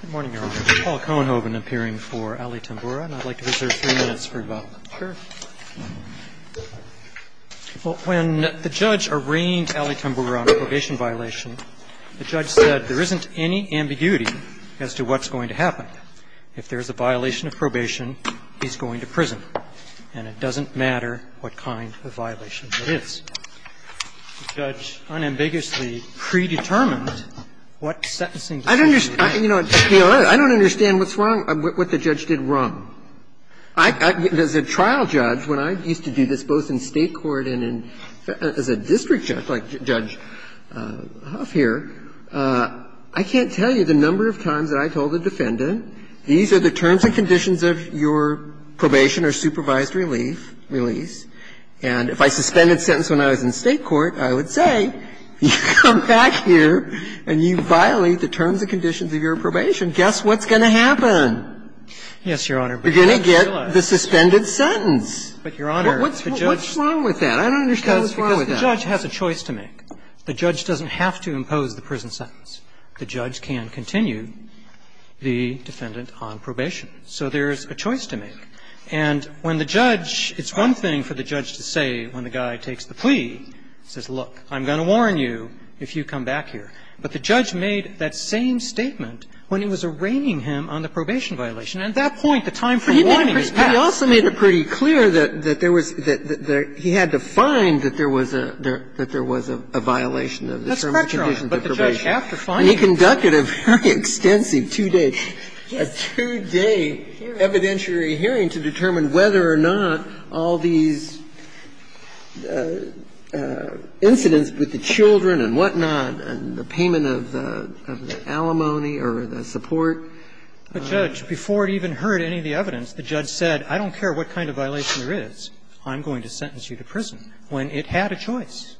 Good morning, Your Honor. Paul Cohenhoven appearing for Allie Tamboura, and I'd like to reserve three minutes for rebuttal. Sure. Well, when the judge arraigned Allie Tamboura on a probation violation, the judge said there isn't any ambiguity as to what's going to happen. If there's a violation of probation, he's going to prison, and it doesn't matter what kind of violation it is. The judge unambiguously predetermined what sentencing decision he would make. I don't understand, Your Honor, I don't understand what's wrong, what the judge did wrong. As a trial judge, when I used to do this both in State court and in as a district judge, like Judge Huff here, I can't tell you the number of times that I told a defendant, these are the terms and conditions of your probation or supervised relief, release. And if I suspended sentence when I was in State court, I would say, you come back here and you violate the terms and conditions of your probation, guess what's going to happen? Yes, Your Honor. You're going to get the suspended sentence. But, Your Honor, the judge What's wrong with that? I don't understand what's wrong with that. Because the judge has a choice to make. The judge doesn't have to impose the prison sentence. The judge can continue the defendant on probation. So there's a choice to make. But the judge made that same statement when he was arraigning him on the probation violation, and at that point, the time for warning has passed. But he also made it pretty clear that there was the he had to find that there was a that there was a violation of the terms and conditions of probation. That's correct, Your Honor, but the judge, after finding it. And he conducted a very extensive two-day, a two-day evidentiary hearing to determine whether or not all these incidents with the children and whatnot and the payment of the alimony or the support. The judge, before it even heard any of the evidence, the judge said, I don't care what kind of violation there is. I'm going to sentence you to prison, when it had a choice.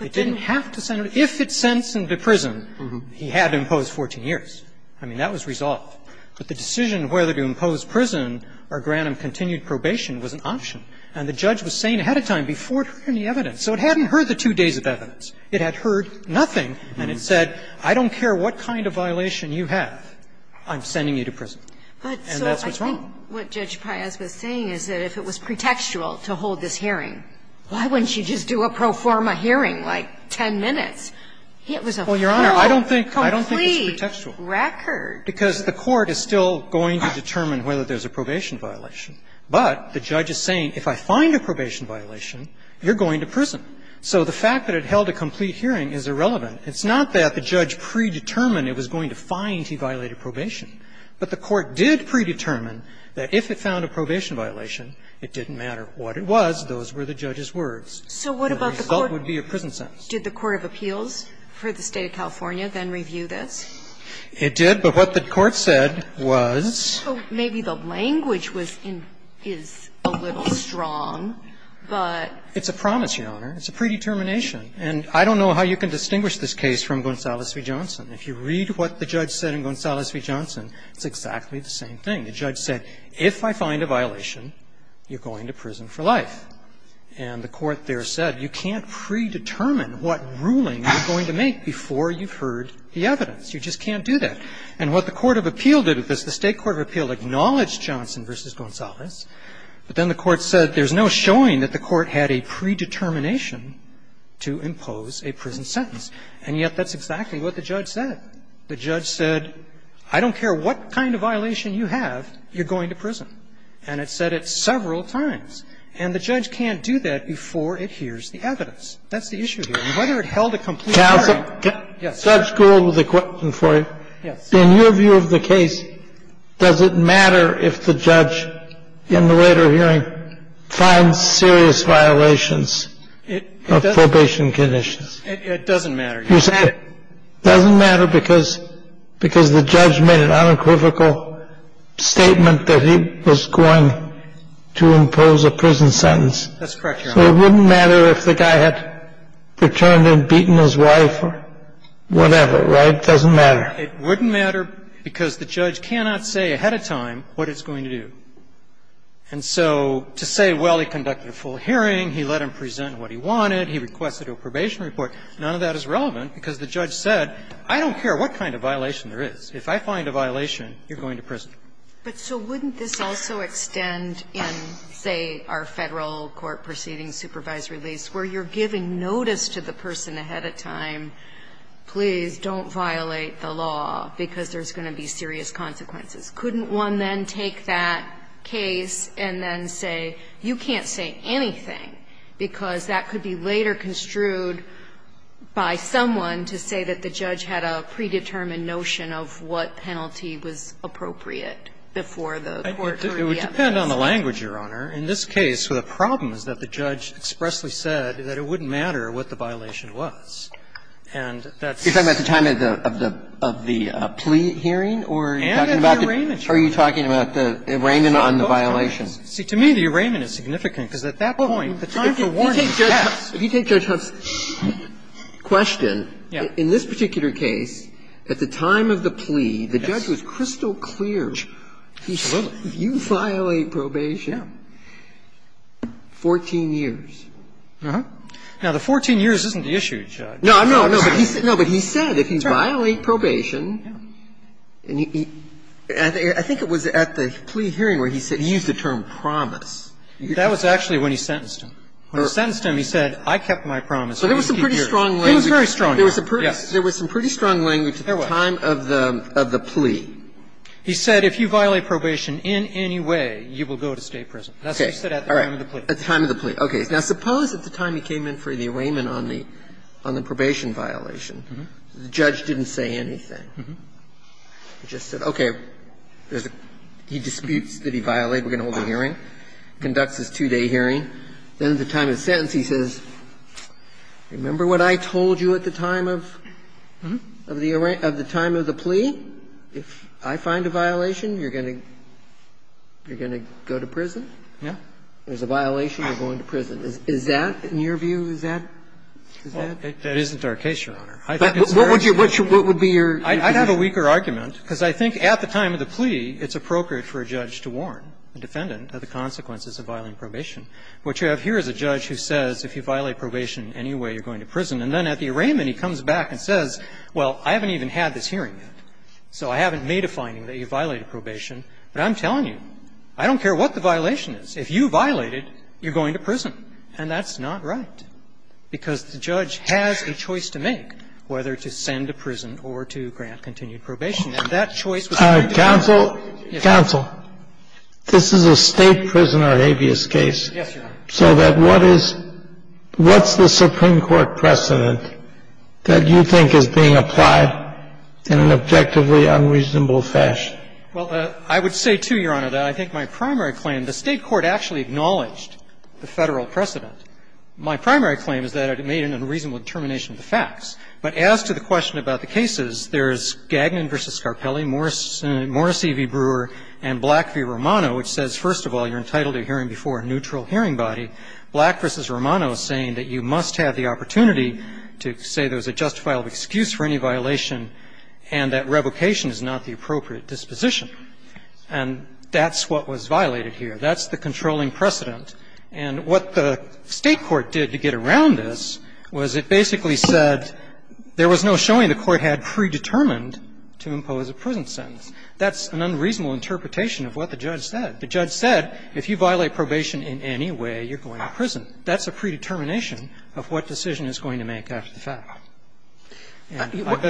It didn't have to sentence him. If it sentenced him to prison, he had to impose 14 years. I mean, that was resolved. But the decision whether to impose prison or grant him continued probation was an option. And the judge was saying ahead of time, before it heard any evidence. So it hadn't heard the two days of evidence. It had heard nothing, and it said, I don't care what kind of violation you have. I'm sending you to prison. And that's what's wrong. But so I think what Judge Paez was saying is that if it was pretextual to hold this hearing, why wouldn't she just do a pro forma hearing, like 10 minutes? It was a full, complete record. Well, Your Honor, I don't think it's pretextual. It's a record. Because the court is still going to determine whether there's a probation violation. But the judge is saying, if I find a probation violation, you're going to prison. So the fact that it held a complete hearing is irrelevant. It's not that the judge predetermined it was going to find he violated probation. But the court did predetermine that if it found a probation violation, it didn't matter what it was. Those were the judge's words. So what about the court? The result would be a prison sentence. Did the Court of Appeals for the State of California then review this? It did. But what the court said was? So maybe the language was in – is a little strong, but – It's a promise, Your Honor. It's a predetermination. And I don't know how you can distinguish this case from Gonzales v. Johnson. If you read what the judge said in Gonzales v. Johnson, it's exactly the same thing. The judge said, if I find a violation, you're going to prison for life. And the court there said, you can't predetermine what ruling you're going to make before you've heard the evidence. You just can't do that. And what the court of appeal did with this, the State court of appeal acknowledged Johnson v. Gonzales. But then the court said there's no showing that the court had a predetermination to impose a prison sentence. And yet that's exactly what the judge said. The judge said, I don't care what kind of violation you have, you're going to prison. And it said it several times. And the judge can't do that before it hears the evidence. That's the issue here. And whether it held a complete hearing – I have a question for you. In your view of the case, does it matter if the judge in the later hearing finds serious violations of probation conditions? It doesn't matter. It doesn't matter because the judge made an unequivocal statement that he was going to impose a prison sentence. That's correct, Your Honor. So it wouldn't matter if the guy had returned and beaten his wife or whatever, right? It doesn't matter. It wouldn't matter because the judge cannot say ahead of time what it's going to do. And so to say, well, he conducted a full hearing, he let him present what he wanted, he requested a probation report, none of that is relevant because the judge said, I don't care what kind of violation there is. If I find a violation, you're going to prison. But so wouldn't this also extend in, say, our Federal court proceeding supervisory lease, where you're giving notice to the person ahead of time, please don't violate the law because there's going to be serious consequences. Couldn't one then take that case and then say, you can't say anything, because that could be later construed by someone to say that the judge had a predetermined notion of what penalty was appropriate before the court heard the evidence. It would depend on the language, Your Honor. In this case, the problem is that the judge expressly said that it wouldn't matter what the violation was. And that's the point. You're talking about the time of the plea hearing or are you talking about the arraignment on the violation? See, to me, the arraignment is significant because at that point, the time for warrant is passed. If you take Judge Huff's question, in this particular case, at the time of the plea, the judge was crystal clear. Absolutely. If you violate probation, 14 years. Now, the 14 years isn't the issue, Judge. No, no, no. But he said if he violated probation, and I think it was at the plea hearing where he said he used the term promise. That was actually when he sentenced him. When he sentenced him, he said, I kept my promise. So there was some pretty strong language. He was very strong, Your Honor. Yes. There was some pretty strong language at the time of the plea. He said if you violate probation in any way, you will go to state prison. That's what he said at the time of the plea. At the time of the plea. Okay. Now, suppose at the time he came in for the arraignment on the probation violation, the judge didn't say anything. He just said, okay, he disputes that he violated, we're going to hold a hearing, conducts his two-day hearing. Then at the time of his sentence, he says, remember what I told you at the time of the arraignment, of the time of the plea? If I find a violation, you're going to go to prison? Yeah. There's a violation, you're going to prison. Is that, in your view, is that? That isn't our case, Your Honor. I think it's very clear. What would be your view? I'd have a weaker argument, because I think at the time of the plea, it's appropriate for a judge to warn a defendant of the consequences of violating probation. What you have here is a judge who says, if you violate probation in any way, you're going to prison. And then at the arraignment, he comes back and says, well, I haven't even had this hearing yet, so I haven't made a finding that you violated probation. But I'm telling you, I don't care what the violation is. If you violate it, you're going to prison. And that's not right, because the judge has a choice to make whether to send to prison or to grant continued probation. And that choice was made to counsel. So counsel, this is a State prisoner habeas case. Yes, Your Honor. So that what is the Supreme Court precedent that you think is being applied in an objectively unreasonable fashion? Well, I would say, too, Your Honor, that I think my primary claim, the State court actually acknowledged the Federal precedent. My primary claim is that it made an unreasonable determination of the facts. But as to the question about the cases, there's Gagnon v. Scarpelli, Morrissey v. Brewer, and Black v. Romano, which says, first of all, you're entitled to a hearing before a neutral hearing body. Black v. Romano is saying that you must have the opportunity to say there's a justifiable excuse for any violation, and that revocation is not the appropriate disposition. And that's what was violated here. That's the controlling precedent. And what the State court did to get around this was it basically said there was no showing the court had predetermined to impose a prison sentence. That's an unreasonable interpretation of what the judge said. The judge said if you violate probation in any way, you're going to prison. That's a predetermination of what decision is going to make after the fact. Go ahead, Your Honor. Go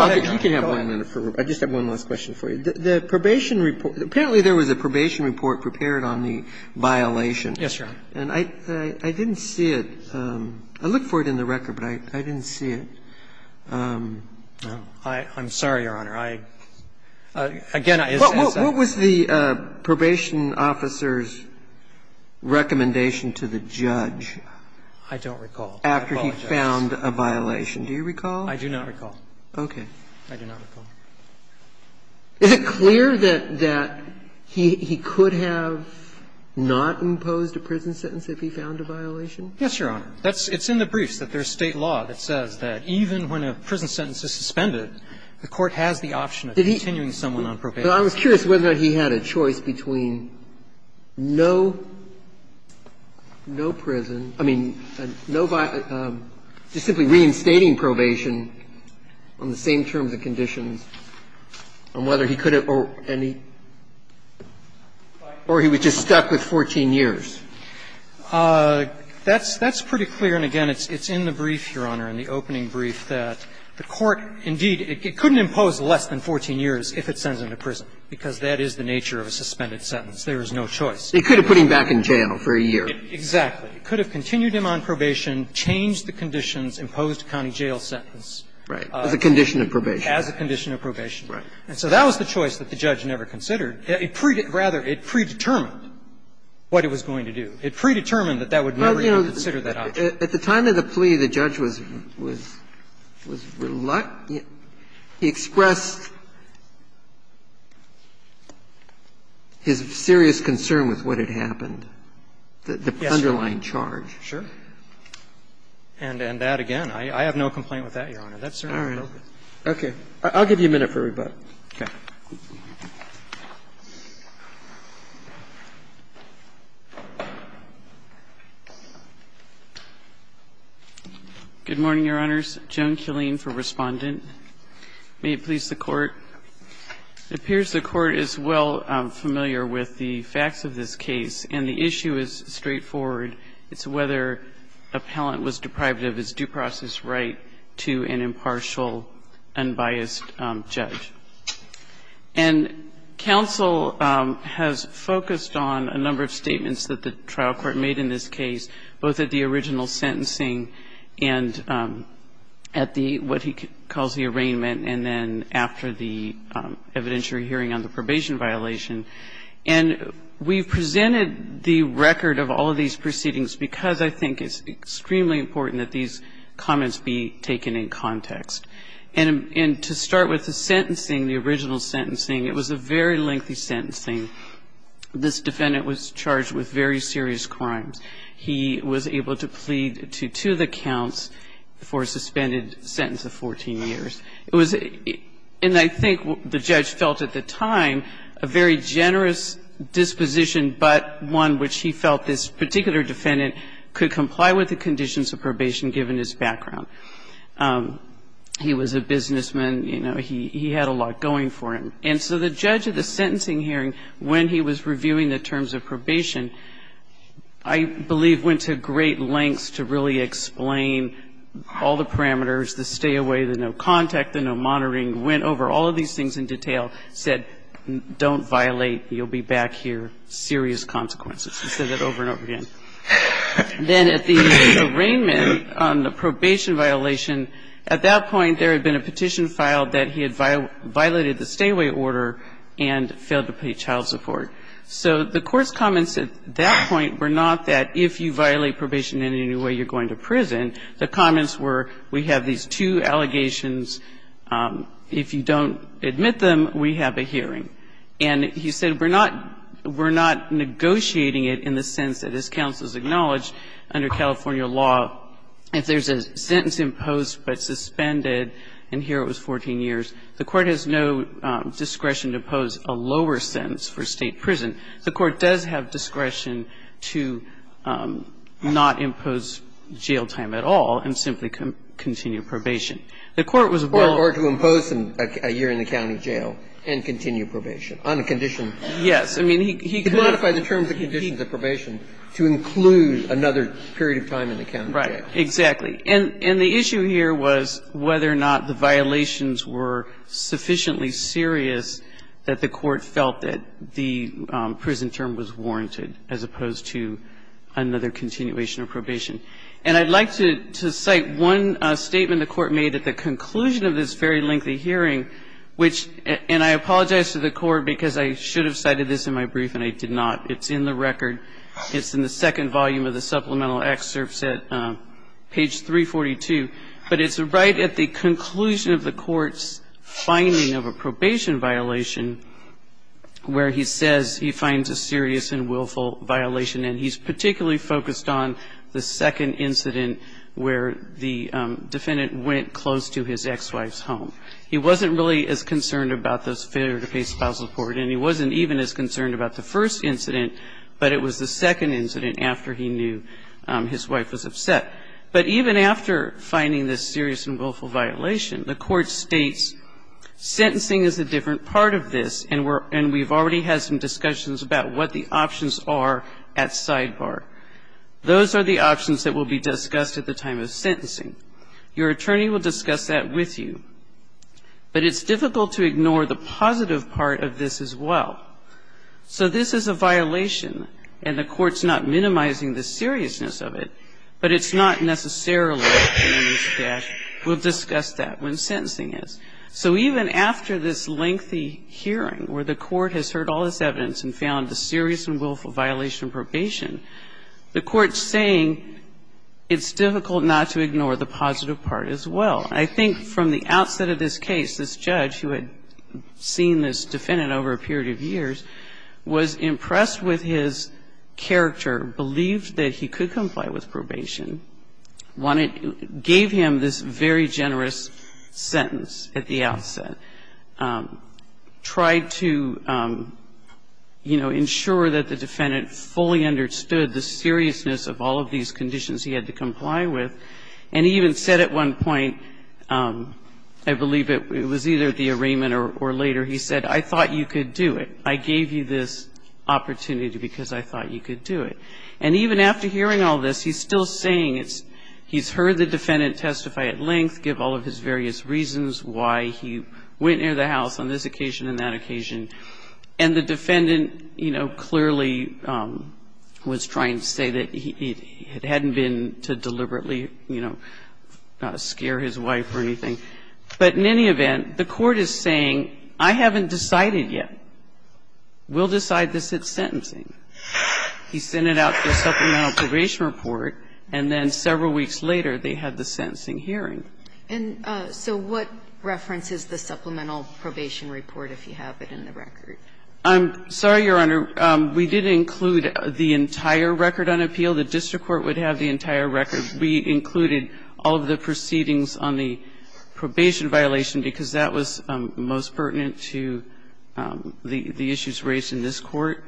ahead, Your Honor. I just have one last question for you. The probation report, apparently there was a probation report prepared on the violation. Yes, Your Honor. And I didn't see it. I looked for it in the record, but I didn't see it. I'm sorry, Your Honor. I, again, I just have to say. What was the probation officer's recommendation to the judge? I don't recall. After he found a violation. Do you recall? I do not recall. Okay. I do not recall. Is it clear that he could have not imposed a prison sentence if he found a violation? Yes, Your Honor. It's in the briefs that there's State law that says that even when a prison sentence is suspended, the court has the option of continuing someone on probation. But I was curious whether or not he had a choice between no prison, I mean, no violation of just simply reinstating probation on the same terms and conditions, and whether he could have or any, or he was just stuck with 14 years. That's pretty clear. And, again, it's in the brief, Your Honor, in the opening brief, that the court indeed, it couldn't impose less than 14 years if it sends him to prison, because that is the nature of a suspended sentence. There is no choice. He could have put him back in jail for a year. Exactly. It could have continued him on probation, changed the conditions, imposed a county jail sentence. Right. As a condition of probation. As a condition of probation. Right. And so that was the choice that the judge never considered. Rather, it predetermined what it was going to do. It predetermined that that would never be considered that option. At the time of the plea, the judge was reluctant. He expressed his serious concern with what had happened, the underlying charge. Yes, sir. Sure. And that, again, I have no complaint with that, Your Honor. That's certainly broken. All right. Okay. I'll give you a minute for rebuttal. Okay. Good morning, Your Honors. Joan Killeen for Respondent. May it please the Court. It appears the Court is well familiar with the facts of this case, and the issue is straightforward. It's whether a palant was deprived of his due process right to an impartial, unbiased judge. And counsel has focused on a number of statements that the trial court made in this case, both at the original sentencing and at what he calls the arraignment, and then after the evidentiary hearing on the probation violation. And we've presented the record of all of these proceedings because I think it's extremely important that these comments be taken in context. And to start with the sentencing, the original sentencing, it was a very lengthy sentencing. This defendant was charged with very serious crimes. He was able to plead to two of the counts for a suspended sentence of 14 years. It was and I think the judge felt at the time a very generous disposition, but one which he felt this particular defendant could comply with the conditions of probation given his background. He was a businessman. You know, he had a lot going for him. And so the judge at the sentencing hearing, when he was reviewing the terms of probation, I believe went to great lengths to really explain all the parameters, the stay away, the no contact, the no monitoring, went over all of these things in detail, said don't violate, you'll be back here, serious consequences. He said that over and over again. Then at the arraignment on the probation violation, at that point there had been a petition filed that he had violated the stay away order and failed to pay child support. So the court's comments at that point were not that if you violate probation in any way you're going to prison. The comments were we have these two allegations. If you don't admit them, we have a hearing. And he said we're not negotiating it in the sense that as counsel has acknowledged under California law, if there's a sentence imposed but suspended, and here it was 14 years, the court has no discretion to impose a lower sentence for State prison. The court does have discretion to not impose jail time at all and simply continue probation. The court was well. Breyer to impose a year in the county jail and continue probation on a condition. Yes. I mean, he could. To modify the terms and conditions of probation to include another period of time in the county jail. Right. Exactly. And the issue here was whether or not the violations were sufficiently serious that the court felt that the prison term was warranted as opposed to another continuation of probation. And I'd like to cite one statement the Court made at the conclusion of this very lengthy hearing, which, and I apologize to the Court because I should have cited this in my brief and I did not. It's in the record. It's in the second volume of the supplemental excerpts at page 342. But it's right at the conclusion of the Court's finding of a probation violation where he says he finds a serious and willful violation. And he's particularly focused on the second incident where the defendant went close to his ex-wife's home. He wasn't really as concerned about this failure to pay spousal support, and he wasn't even as concerned about the first incident, but it was the second incident after he knew his wife was upset. But even after finding this serious and willful violation, the Court states sentencing is a different part of this, and we've already had some discussions about what the right sidebar is. Those are the options that will be discussed at the time of sentencing. Your attorney will discuss that with you. But it's difficult to ignore the positive part of this as well. So this is a violation, and the Court's not minimizing the seriousness of it, but it's not necessarily a serious dash. We'll discuss that when sentencing is. So even after this lengthy hearing where the Court has heard all this evidence and found the serious and willful violation of probation, the Court's saying it's difficult not to ignore the positive part as well. I think from the outset of this case, this judge, who had seen this defendant over a period of years, was impressed with his character, believed that he could comply with probation, wanted to give him this very generous sentence at the outset, tried to, you know, ensure that the defendant fully understood the seriousness of all of these conditions he had to comply with. And he even said at one point, I believe it was either at the arraignment or later, he said, I thought you could do it. I gave you this opportunity because I thought you could do it. And even after hearing all this, he's still saying it's he's heard the defendant testify at length, give all of his various reasons why he went near the house on this occasion and that occasion, and the defendant, you know, clearly was trying to say that he hadn't been to deliberately, you know, scare his wife or anything. But in any event, the Court is saying, I haven't decided yet. We'll decide this at sentencing. He sent it out for a supplemental probation report, and then several weeks later they had the sentencing hearing. And so what reference is the supplemental probation report if you have it in the record? I'm sorry, Your Honor. We did include the entire record on appeal. The district court would have the entire record. We included all of the proceedings on the probation violation because that was most pertinent to the issues raised in this Court.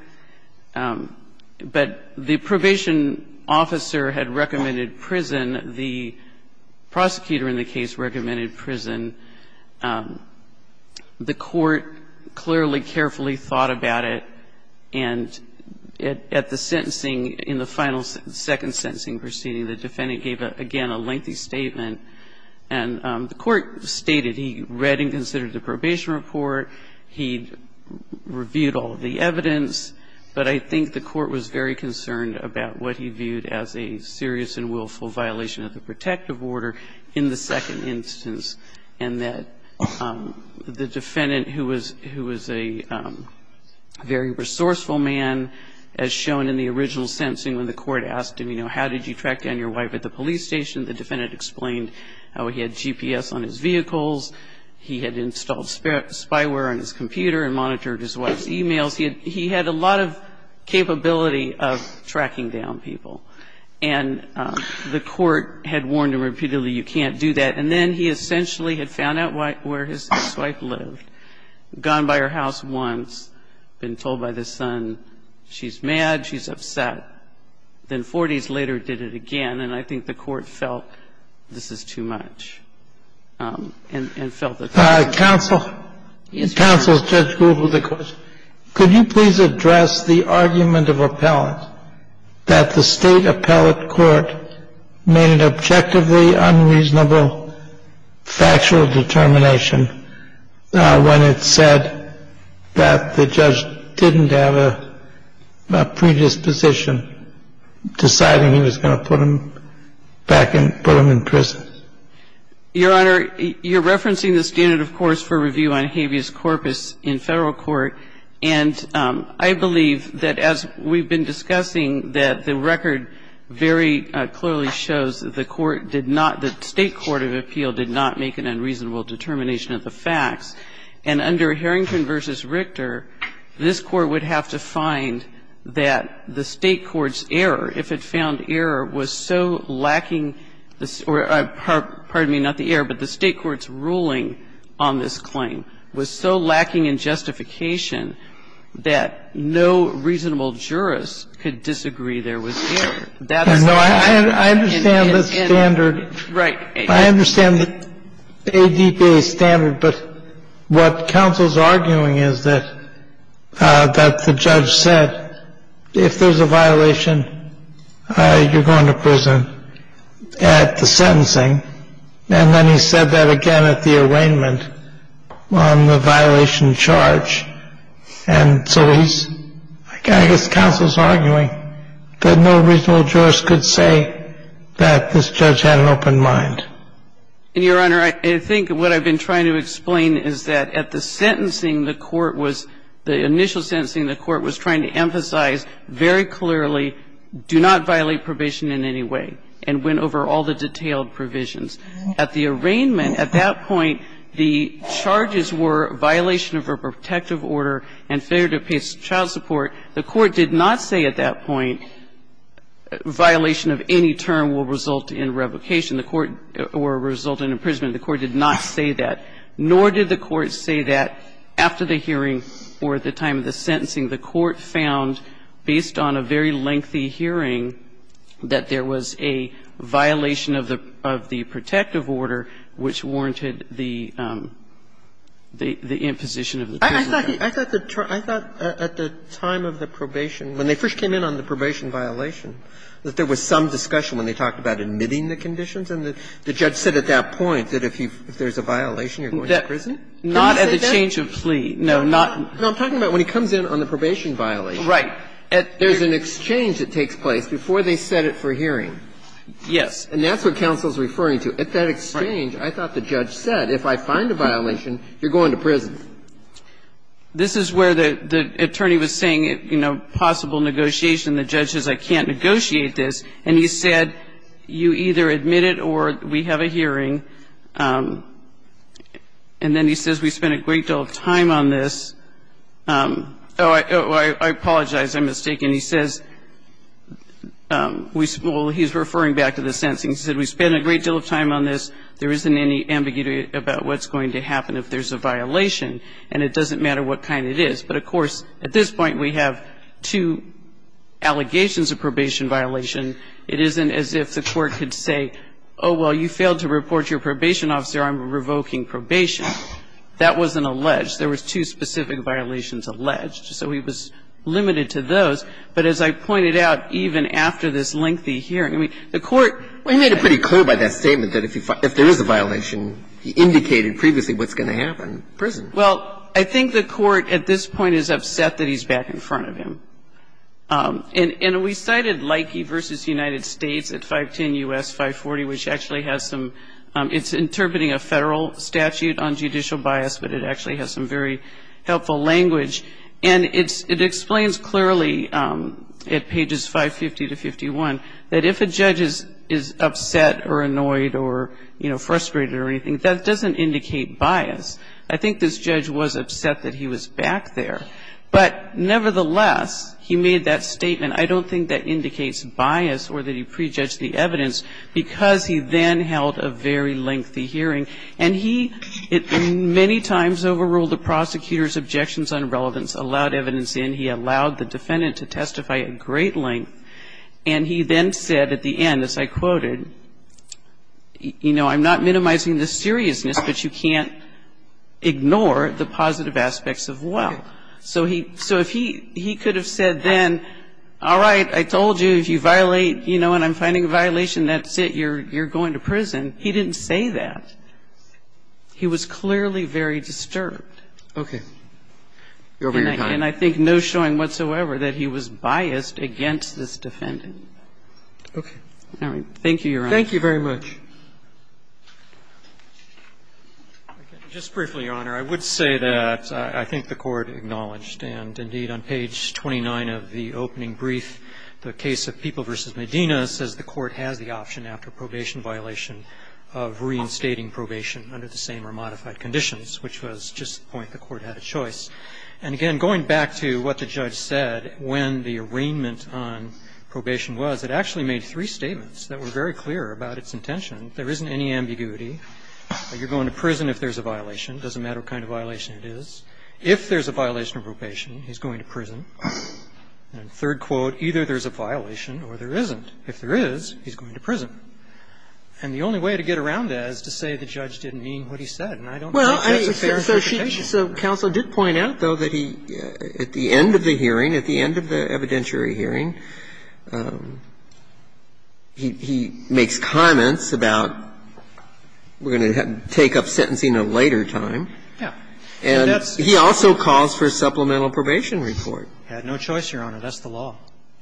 But the probation officer had recommended prison. The prosecutor in the case recommended prison. The Court clearly carefully thought about it. And at the sentencing, in the final second sentencing proceeding, the defendant gave, again, a lengthy statement. And the Court stated he read and considered the probation report. He reviewed all of the evidence. But I think the Court was very concerned about what he viewed as a serious and willful violation of the protective order in the second instance, and that the defendant who was a very resourceful man, as shown in the original sentencing when the Court asked him, you know, how did you track down your wife at the police station, the defendant explained how he had GPS on his vehicles, he had installed spyware on his computer and monitored his wife's e-mails. He had a lot of capability of tracking down people. And the Court had warned him repeatedly, you can't do that. And then he essentially had found out where his wife lived, gone by her house once, been told by the son, she's mad, she's upset. And then 40 days later, did it again, and I think the Court felt this is too much and felt that that's not fair. Kennedy. Counsel, Judge Gould, with a question. Could you please address the argument of appellants that the State appellate court made an objectively unreasonable factual determination when it said that the defendant was going to put him back in prison? Your Honor, you're referencing the standard, of course, for review on habeas corpus in Federal court. And I believe that as we've been discussing, that the record very clearly shows that the court did not, the State court of appeal did not make an unreasonable determination of the facts. And under Harrington v. Richter, this Court would have to find that the State court's error, if it found error, was so lacking, or pardon me, not the error, but the State court's ruling on this claim was so lacking in justification that no reasonable jurist could disagree there was error. That is the point. I understand the standard. Right. I understand the ADPA standard. But what counsel's arguing is that the judge said if there's a violation, you're going to prison at the sentencing. And then he said that again at the arraignment on the violation charge. And so he's, I guess counsel's arguing that no reasonable jurist could say that this judge had an open mind. And, Your Honor, I think what I've been trying to explain is that at the sentencing, the court was, the initial sentencing, the court was trying to emphasize very clearly, do not violate probation in any way, and went over all the detailed provisions. At the arraignment, at that point, the charges were violation of a protective order and failure to pay child support. The court did not say at that point violation of any term will result in revocation. The court, or result in imprisonment, the court did not say that. Nor did the court say that after the hearing or at the time of the sentencing. The court found, based on a very lengthy hearing, that there was a violation of the protective order, which warranted the imposition of the prison term. I thought at the time of the probation, when they first came in on the probation violation, that there was some discussion when they talked about admitting the conditions. And the judge said at that point that if there's a violation, you're going to prison? Not at the change of plea. No, not at the change of plea. No, I'm talking about when he comes in on the probation violation. Right. There's an exchange that takes place before they set it for hearing. Yes. And that's what counsel is referring to. At that exchange, I thought the judge said if I find a violation, you're going to prison. This is where the attorney was saying, you know, possible negotiation. The judge says I can't negotiate this. And he said you either admit it or we have a hearing. And then he says we spent a great deal of time on this. Oh, I apologize. I'm mistaken. And he says, well, he's referring back to the sentencing. He said we spent a great deal of time on this. There isn't any ambiguity about what's going to happen if there's a violation. And it doesn't matter what kind it is. But, of course, at this point, we have two allegations of probation violation. It isn't as if the Court could say, oh, well, you failed to report your probation officer on revoking probation. That wasn't alleged. There was two specific violations alleged. So he was limited to those. But as I pointed out, even after this lengthy hearing, I mean, the Court — Well, he made it pretty clear by that statement that if there is a violation, he indicated previously what's going to happen, prison. Well, I think the Court at this point is upset that he's back in front of him. And we cited Leike v. United States at 510 U.S. 540, which actually has some — it's interpreting a Federal statute on judicial bias, but it actually has some very helpful language. And it explains clearly at pages 550 to 51 that if a judge is upset or annoyed or, you know, frustrated or anything, that doesn't indicate bias. I think this judge was upset that he was back there. But nevertheless, he made that statement. I don't think that indicates bias or that he prejudged the evidence because he then held a very lengthy hearing. And he many times overruled the prosecutor's objections on relevance, allowed evidence in. He allowed the defendant to testify at great length. And he then said at the end, as I quoted, you know, I'm not minimizing the seriousness, but you can't ignore the positive aspects of well. So he — so if he could have said then, all right, I told you, if you violate, you know, and I'm finding a violation, that's it, you're going to prison. He didn't say that. He was clearly very disturbed. Roberts. Okay. You're over your time. And I think no showing whatsoever that he was biased against this defendant. Okay. All right. Thank you, Your Honor. Thank you very much. Just briefly, Your Honor, I would say that I think the Court acknowledged and, indeed, on page 29 of the opening brief, the case of People v. Medina says the same or modified conditions, which was just the point the Court had a choice. And, again, going back to what the judge said when the arraignment on probation was, it actually made three statements that were very clear about its intention. There isn't any ambiguity. You're going to prison if there's a violation. It doesn't matter what kind of violation it is. If there's a violation of probation, he's going to prison. And third quote, either there's a violation or there isn't. If there is, he's going to prison. And the only way to get around that is to say the judge didn't mean what he said. And I don't think that's a fair interpretation. Well, so she — so counsel did point out, though, that he, at the end of the hearing, at the end of the evidentiary hearing, he makes comments about we're going to take up sentencing at a later time. Yeah. And he also calls for supplemental probation report. He had no choice, Your Honor. That's the law.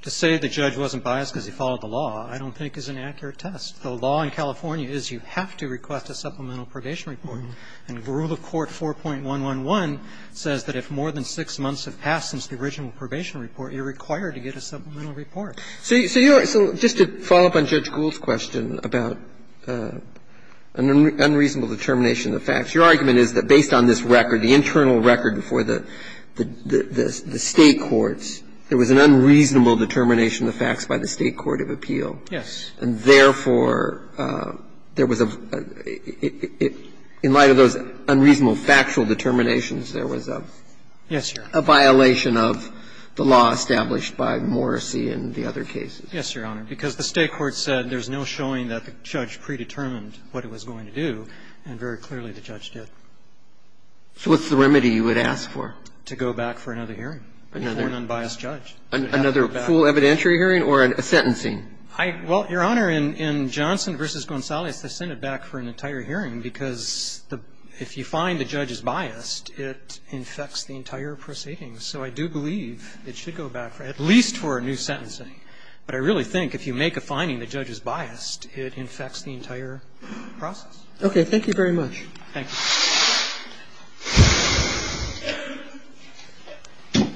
To say the judge wasn't biased because he followed the law I don't think is an accurate test. The law in California is you have to request a supplemental probation report. And rule of court 4.111 says that if more than six months have passed since the original probation report, you're required to get a supplemental report. So you're — so just to follow up on Judge Gould's question about an unreasonable determination of the facts, your argument is that based on this record, the internal record before the State courts, there was an unreasonable determination of the facts by the State court of appeal. Yes. And therefore, there was a — in light of those unreasonable factual determinations, there was a violation of the law established by Morrissey and the other cases. Yes, Your Honor. Because the State court said there's no showing that the judge predetermined what it was going to do, and very clearly the judge did. So what's the remedy you would ask for? To go back for another hearing for an unbiased judge. Another full evidentiary hearing or a sentencing? I — well, Your Honor, in Johnson v. Gonzalez, they send it back for an entire hearing because if you find the judge is biased, it infects the entire proceeding. So I do believe it should go back for at least for a new sentencing. But I really think if you make a finding the judge is biased, it infects the entire process. Thank you very much. Thank you. Thank you.